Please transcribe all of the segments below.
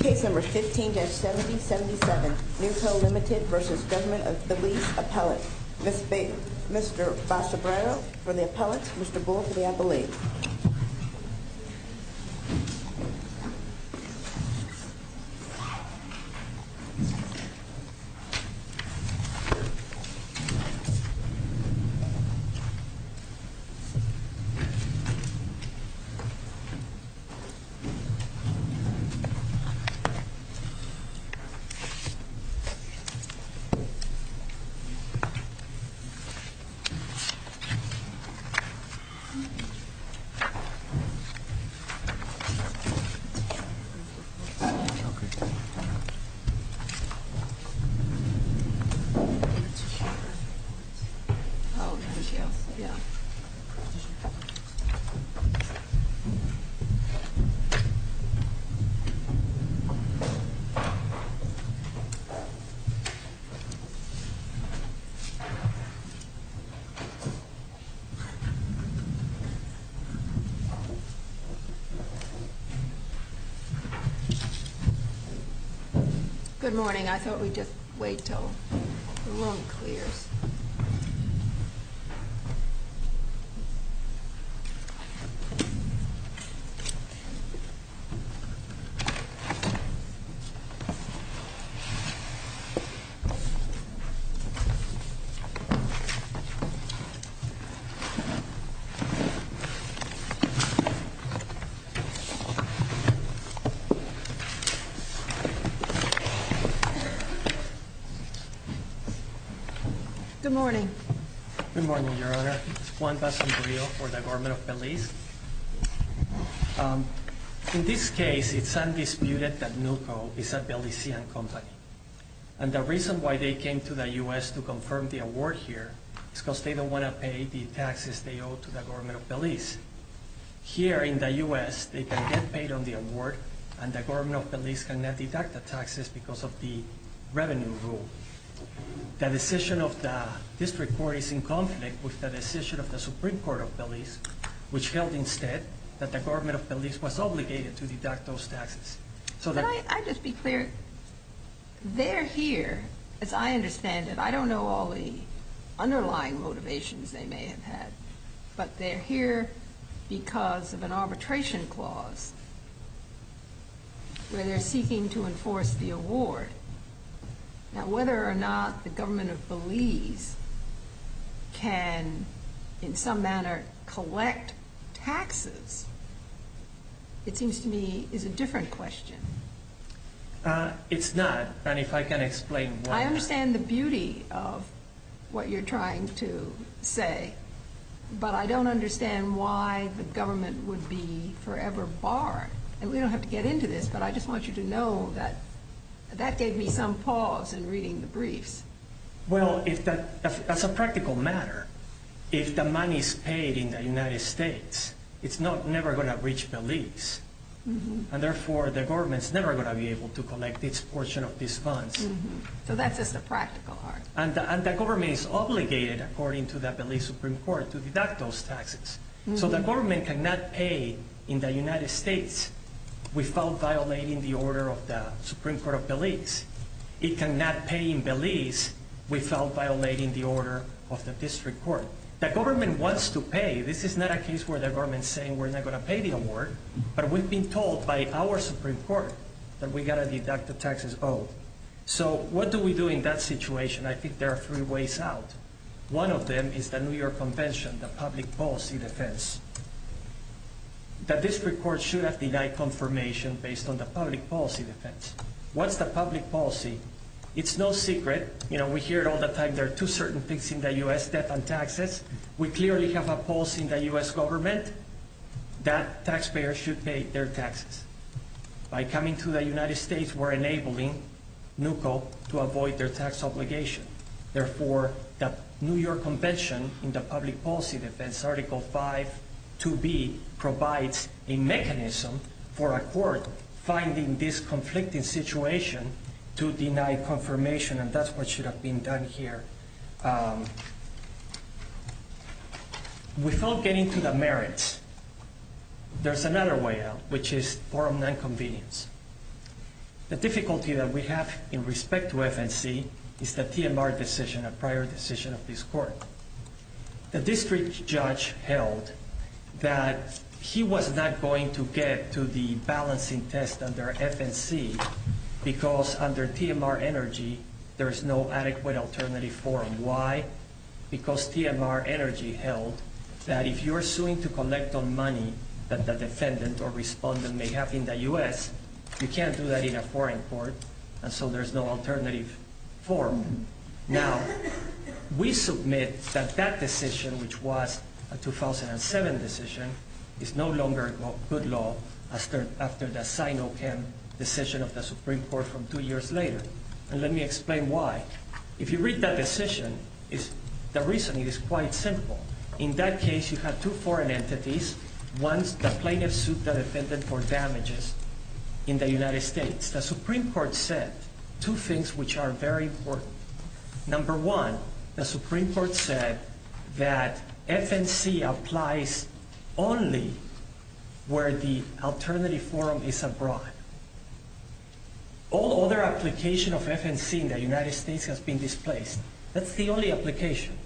Case number 15-7077, Newco Limited v. Government of Belize Appellate. Mr. Basobrero for the appellate, Mr. Bull for the appellate. Mr. Basobrero for the appellate, Mr. Bull for the appellate. Good morning, I thought we'd just wait until the room clears. Mr. Basobrero for the appellate, Mr. Bull for the appellate. Good morning. Good morning, Your Honor. Juan Basobrero for the Government of Belize. In this case, it's undisputed that Newco is a Belizean company. And the reason why they came to the U.S. to confirm the award here is because they don't want to pay the taxes they owe to the Government of Belize. Here in the U.S., they can get paid on the award, and the Government of Belize cannot deduct the taxes because of the revenue rule. The decision of the district court is in conflict with the decision of the Supreme Court of Belize, which held instead that the Government of Belize was obligated to deduct those taxes. Can I just be clear? They're here, as I understand it, I don't know all the underlying motivations they may have had, but they're here because of an arbitration clause where they're seeking to enforce the award. Now, whether or not the Government of Belize can, in some manner, collect taxes, it seems to me, is a different question. It's not, and if I can explain why. I understand the beauty of what you're trying to say, but I don't understand why the government would be forever barred. And we don't have to get into this, but I just want you to know that that gave me some pause in reading the briefs. Well, as a practical matter, if the money is paid in the United States, it's never going to reach Belize. And therefore, the government's never going to be able to collect this portion of these funds. So that's just a practical argument. And the government is obligated, according to the Belize Supreme Court, to deduct those taxes. So the government cannot pay in the United States without violating the order of the Supreme Court of Belize. It cannot pay in Belize without violating the order of the district court. The government wants to pay. This is not a case where the government's saying we're not going to pay the award, but we've been told by our Supreme Court that we've got to deduct the taxes owed. So what do we do in that situation? I think there are three ways out. One of them is the New York Convention, the public policy defense. The district court should have denied confirmation based on the public policy defense. What's the public policy? It's no secret. You know, we hear it all the time. There are two certain things in the U.S., debt and taxes. We clearly have a policy in the U.S. government that taxpayers should pay their taxes. By coming to the United States, we're enabling NUCCO to avoid their tax obligation. Therefore, the New York Convention in the public policy defense, Article 5, 2B, provides a mechanism for a court finding this conflicting situation to deny confirmation, and that's what should have been done here. Without getting to the merits, there's another way out, which is forum 9 convenience. The difficulty that we have in respect to FNC is the TMR decision, a prior decision of this court. The district judge held that he was not going to get to the balancing test under FNC because under TMR energy, there's no adequate alternative forum. Why? Because TMR energy held that if you're suing to collect the money that the defendant or respondent may have in the U.S., you can't do that in a foreign court, and so there's no alternative forum. Now, we submit that that decision, which was a 2007 decision, is no longer good law after the Sino-Pem decision of the Supreme Court from two years later. And let me explain why. If you read that decision, the reasoning is quite simple. In that case, you have two foreign entities. One's the plaintiff's suit the defendant for damages in the United States. The Supreme Court said two things which are very important. Number one, the Supreme Court said that FNC applies only where the alternative forum is abroad. All other application of FNC in the United States has been displaced. That's the only application.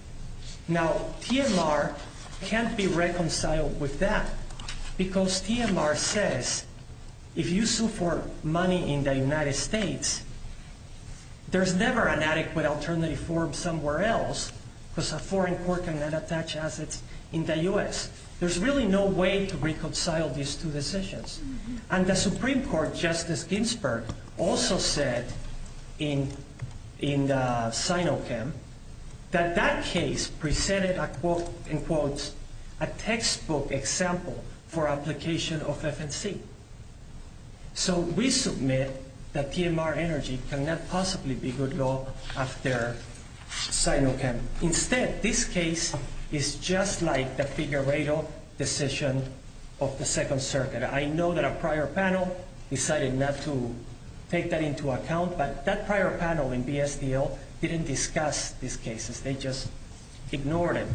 Now, TMR can't be reconciled with that because TMR says if you sue for money in the United States, there's never an adequate alternative forum somewhere else because a foreign court cannot attach assets in the U.S. There's really no way to reconcile these two decisions. And the Supreme Court, Justice Ginsburg, also said in the Sino-Pem that that case presented, in quotes, a textbook example for application of FNC. So we submit that TMR energy cannot possibly be good law after Sino-Pem. Instead, this case is just like the Figueredo decision of the Second Circuit. I know that a prior panel decided not to take that into account, but that prior panel in BSDL didn't discuss these cases. They just ignored it.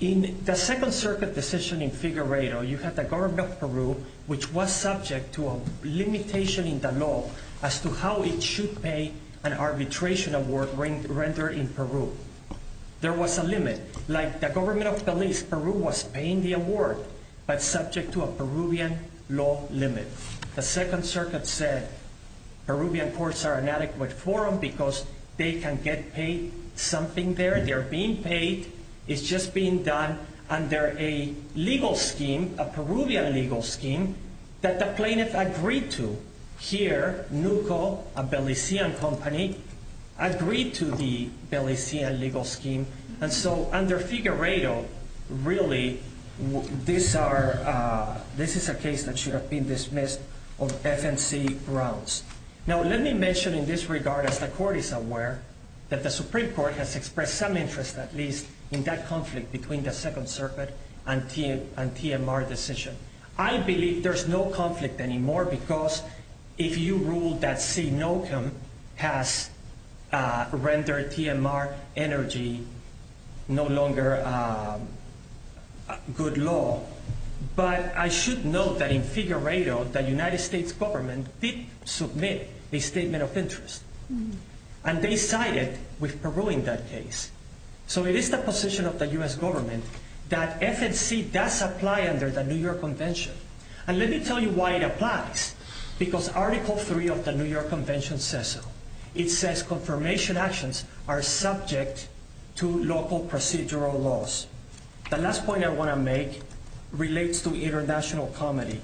In the Second Circuit decision in Figueredo, you had the government of Peru, which was subject to a limitation in the law as to how it should pay an arbitration award rendered in Peru. There was a limit. Like the government of Belize, Peru was paying the award, but subject to a Peruvian law limit. The Second Circuit said Peruvian courts are inadequate forum because they can get paid something there. They're being paid. It's just being done under a legal scheme, a Peruvian legal scheme, that the plaintiff agreed to. Here, NUCO, a Belizean company, agreed to the Belizean legal scheme. Under Figueredo, really, this is a case that should have been dismissed on FNC grounds. Now, let me mention in this regard, as the court is aware, that the Supreme Court has expressed some interest, at least, in that conflict between the Second Circuit and TMR decision. I believe there's no conflict anymore because if you rule that C. Nocum has rendered TMR energy no longer good law. But I should note that in Figueredo, the United States government did submit a statement of interest. And they sided with Peru in that case. So it is the position of the U.S. government that FNC does apply under the New York Convention. And let me tell you why it applies. Because Article 3 of the New York Convention says so. It says confirmation actions are subject to local procedural laws. The last point I want to make relates to international comity.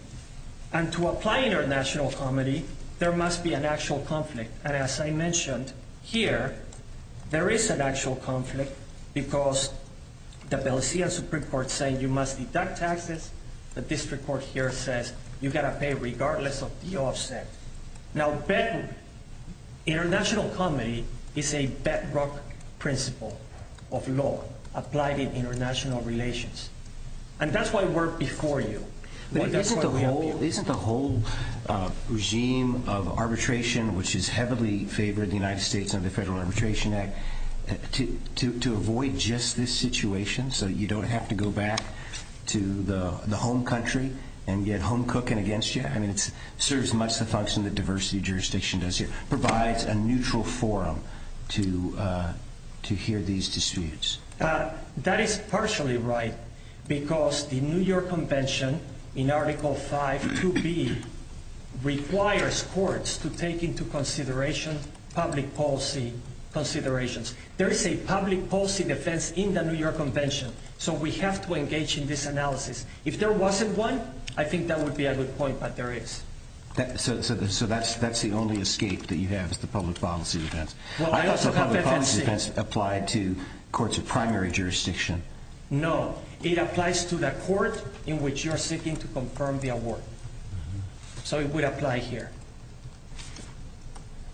And to apply international comity, there must be an actual conflict. And as I mentioned, here, there is an actual conflict because the Belizean Supreme Court said you must deduct taxes. The district court here says you've got to pay regardless of the offset. Now, international comity is a bedrock principle of law applied in international relations. And that's why we're before you. Isn't the whole regime of arbitration, which is heavily favored in the United States under the Federal Arbitration Act, to avoid just this situation so you don't have to go back to the home country and get home cooking against you? I mean, it serves much the function that diversity jurisdiction does here. It provides a neutral forum to hear these disputes. That is partially right because the New York Convention in Article 5 2B requires courts to take into consideration public policy considerations. There is a public policy defense in the New York Convention. So we have to engage in this analysis. If there wasn't one, I think that would be a good point, but there is. So that's the only escape that you have is the public policy defense. I thought the public policy defense applied to courts of primary jurisdiction. No, it applies to the court in which you're seeking to confirm the award. So it would apply here.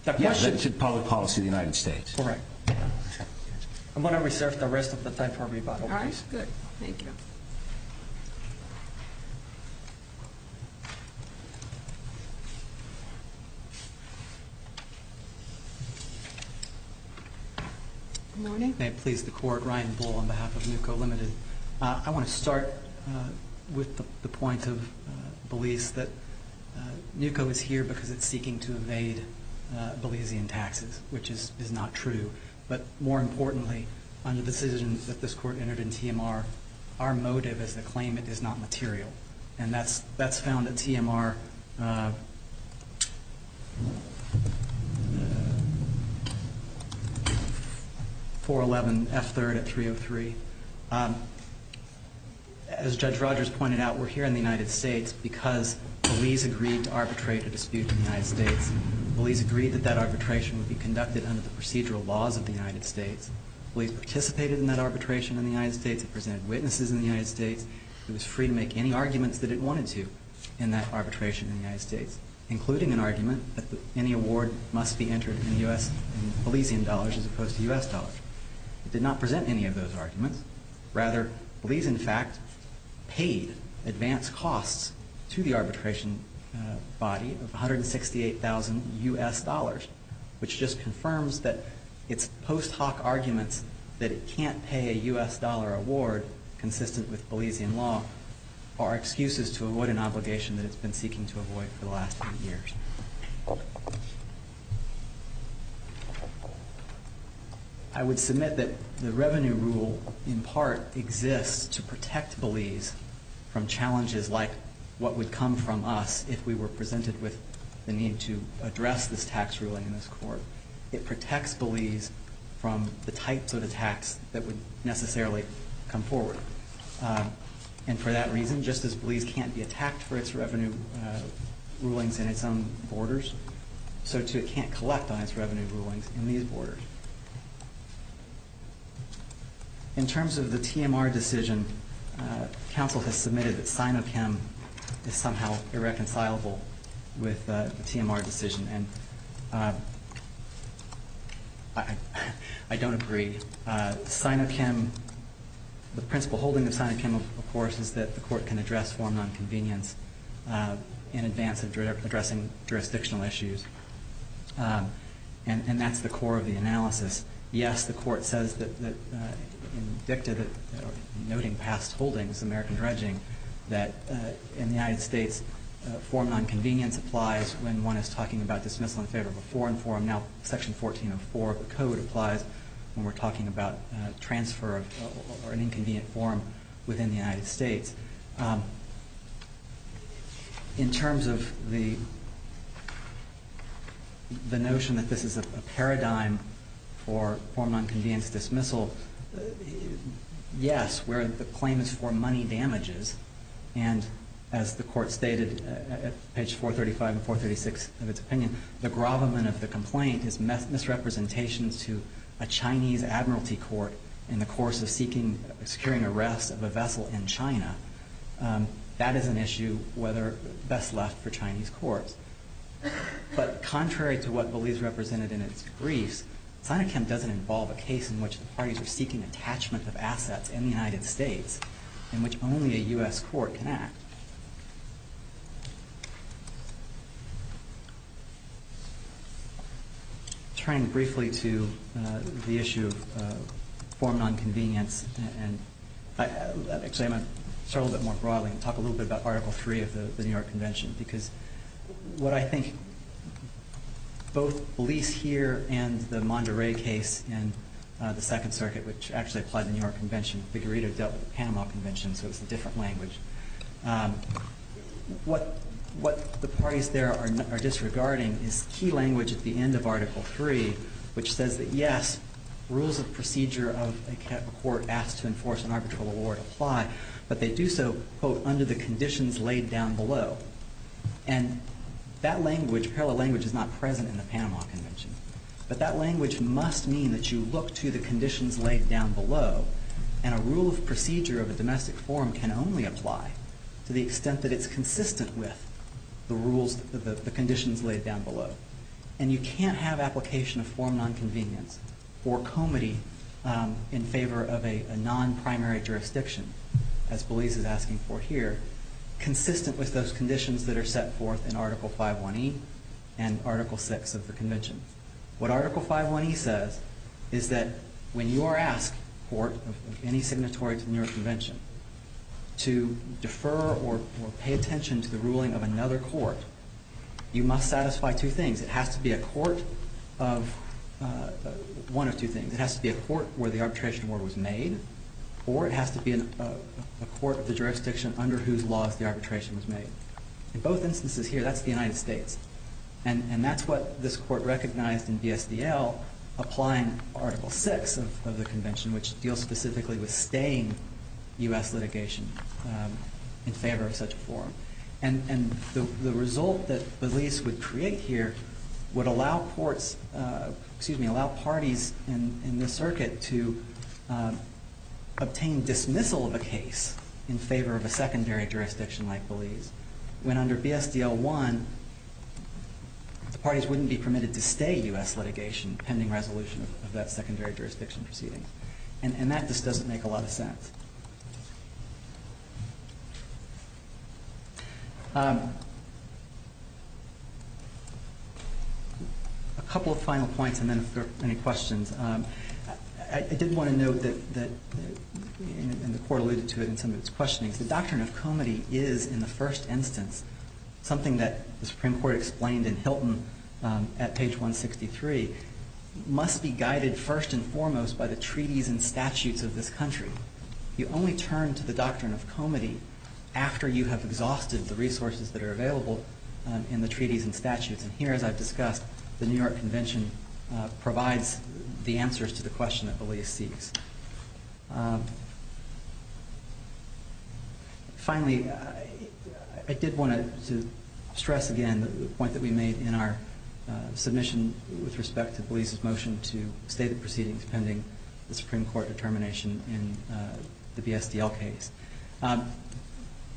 The question is public policy of the United States. Correct. I'm going to reserve the rest of the time for rebuttal. All right, good. Thank you. Good morning. May it please the court. Ryan Bull on behalf of NUCCO Limited. I want to start with the point of Belize that NUCCO is here because it's seeking to evade Belizean taxes, which is not true. But more importantly, under the decision that this court entered in TMR, our motive as a claimant is not material. And that's found at TMR 411F3 at 303. As Judge Rogers pointed out, we're here in the United States because Belize agreed to arbitrate a dispute in the United States. Belize agreed that that arbitration would be conducted under the procedural laws of the United States. Belize participated in that arbitration in the United States. It presented witnesses in the United States. It was free to make any arguments that it wanted to in that arbitration in the United States, including an argument that any award must be entered in Belizean dollars as opposed to U.S. dollars. It did not present any of those arguments. Rather, Belize, in fact, paid advance costs to the arbitration body of 168,000 U.S. dollars, which just confirms that its post hoc arguments that it can't pay a U.S. dollar award consistent with Belizean law are excuses to avoid an obligation that it's been seeking to avoid for the last eight years. I would submit that the revenue rule, in part, exists to protect Belize from challenges like what would come from us if we were presented with the need to address this tax ruling in this court. It protects Belize from the types of attacks that would necessarily come forward. And for that reason, just as Belize can't be attacked for its revenue rulings in its own borders, so too it can't collect on its revenue rulings in these borders. In terms of the TMR decision, counsel has submitted that SINOCHEM is somehow irreconcilable with the TMR decision. And I don't agree. SINOCHEM, the principle holding of SINOCHEM, of course, is that the court can address formal inconvenience in advance of addressing jurisdictional issues. And that's the core of the analysis. Yes, the court says that in dicta, noting past holdings, American dredging, that in the United States, formal inconvenience applies when one is talking about dismissal in favor of a foreign forum. Now, Section 1404 of the Code applies when we're talking about transfer of an inconvenient forum within the United States. In terms of the notion that this is a paradigm for formal inconvenience dismissal, yes, where the claim is for money damages. And as the court stated at page 435 and 436 of its opinion, the gravamen of the complaint is misrepresentations to a Chinese Admiralty court in the course of securing arrest of a vessel in China. That is an issue best left for Chinese courts. But contrary to what Belize represented in its briefs, SINOCHEM doesn't involve a case in which the parties are seeking attachment of assets in the United States in which only a U.S. court can act. Turning briefly to the issue of formal inconvenience, and actually I'm going to start a little bit more broadly and talk a little bit about Article 3 of the New York Convention. Because what I think both Belize here and the Monderey case in the Second Circuit, which actually applied to the New York Convention, Figueredo dealt with the Panama Convention, so it's a different language. What the parties there are disregarding is key language at the end of Article 3, which says that yes, rules of procedure of a court asked to enforce an arbitral award apply, but they do so, quote, under the conditions laid down below. And that language, parallel language, is not present in the Panama Convention. But that language must mean that you look to the conditions laid down below, and a rule of procedure of a domestic forum can only apply to the extent that it's consistent with the rules, the conditions laid down below. And you can't have application of formal inconvenience or comity in favor of a non-primary jurisdiction, as Belize is asking for here, consistent with those conditions that are set forth in Article 5.1.E and Article 6 of the Convention. What Article 5.1.E says is that when you are asked, court, of any signatory to the New York Convention, to defer or pay attention to the ruling of another court, you must satisfy two things. It has to be a court of one of two things. It has to be a court where the arbitration award was made, or it has to be a court of the jurisdiction under whose laws the arbitration was made. In both instances here, that's the United States. And that's what this court recognized in BSDL applying Article 6 of the Convention, which deals specifically with staying U.S. litigation in favor of such a forum. And the result that Belize would create here would allow parties in the circuit to obtain dismissal of a case in favor of a secondary jurisdiction like Belize, when under BSDL 1, the parties wouldn't be permitted to stay U.S. litigation pending resolution of that secondary jurisdiction proceeding. And that just doesn't make a lot of sense. A couple of final points, and then if there are any questions. I did want to note that, and the Court alluded to it in some of its questionings, the doctrine of comity is, in the first instance, something that the Supreme Court explained in Hilton at page 163, must be guided first and foremost by the treaties and statutes of this country. You only turn to the doctrine of comity after you have exhausted the resources that are available in the treaties and statutes. And here, as I've discussed, the New York Convention provides the answers to the question that Belize seeks. Finally, I did want to stress again the point that we made in our submission with respect to Belize's motion to stay the proceedings pending the Supreme Court determination in the BSDL case.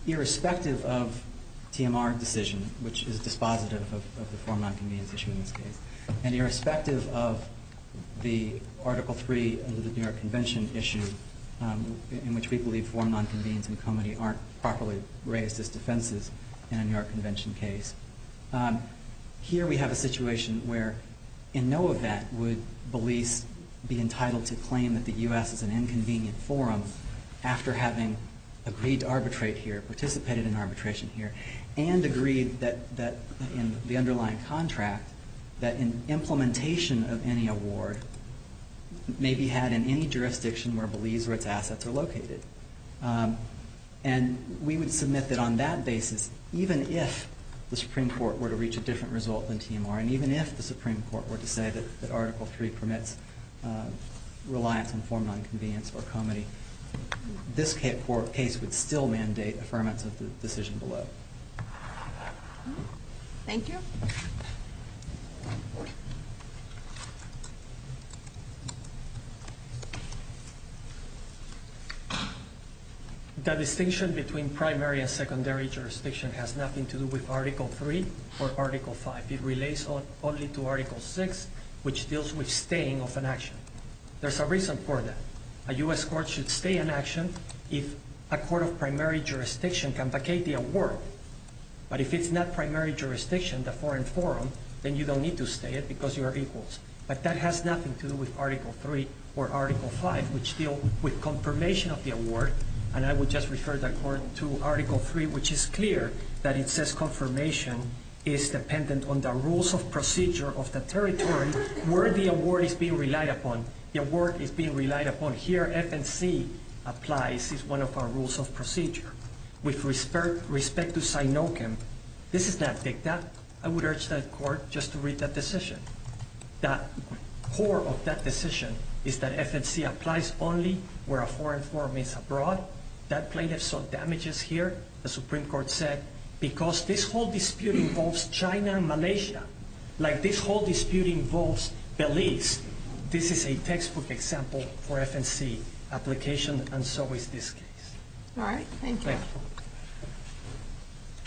Irrespective of TMR decision, which is dispositive of the forum nonconvenience issue in this case, and irrespective of the Article III of the New York Convention issue, in which we believe forum nonconvenience and comity aren't properly raised as defenses in a New York Convention case, here we have a situation where in no event would Belize be entitled to claim that the U.S. is an inconvenient forum after having agreed to arbitrate here, participated in arbitration here, and agreed that in the underlying contract that an implementation of any award may be had in any jurisdiction where Belize or its assets are located. And we would submit that on that basis, even if the Supreme Court were to reach a different result than TMR, and even if the Supreme Court were to say that Article III permits reliance on forum nonconvenience or comity, this case would still mandate affirmation of the decision below. Thank you. The distinction between primary and secondary jurisdiction has nothing to do with Article III or Article V. It relates only to Article VI, which deals with staying of an action. There's a reason for that. A U.S. court should stay an action if a court of primary jurisdiction can vacate the award. But if it's not primary jurisdiction, the foreign forum, then you don't need to stay it because you are equals. But that has nothing to do with Article III or Article V, which deal with confirmation of the award. And I would just refer that to Article III, which is clear that it says confirmation is dependent on the rules of procedure of the territory where the award is being relied upon. The award is being relied upon here. FNC applies. It's one of our rules of procedure. With respect to Sinochem, this is not dicta. I would urge the court just to read that decision. The core of that decision is that FNC applies only where a foreign forum is abroad. That plaintiff saw damages here, the Supreme Court said, because this whole dispute involves China and Malaysia. Like this whole dispute involves Belize. This is a textbook example for FNC application, and so is this case. All right. Thank you. Thank you.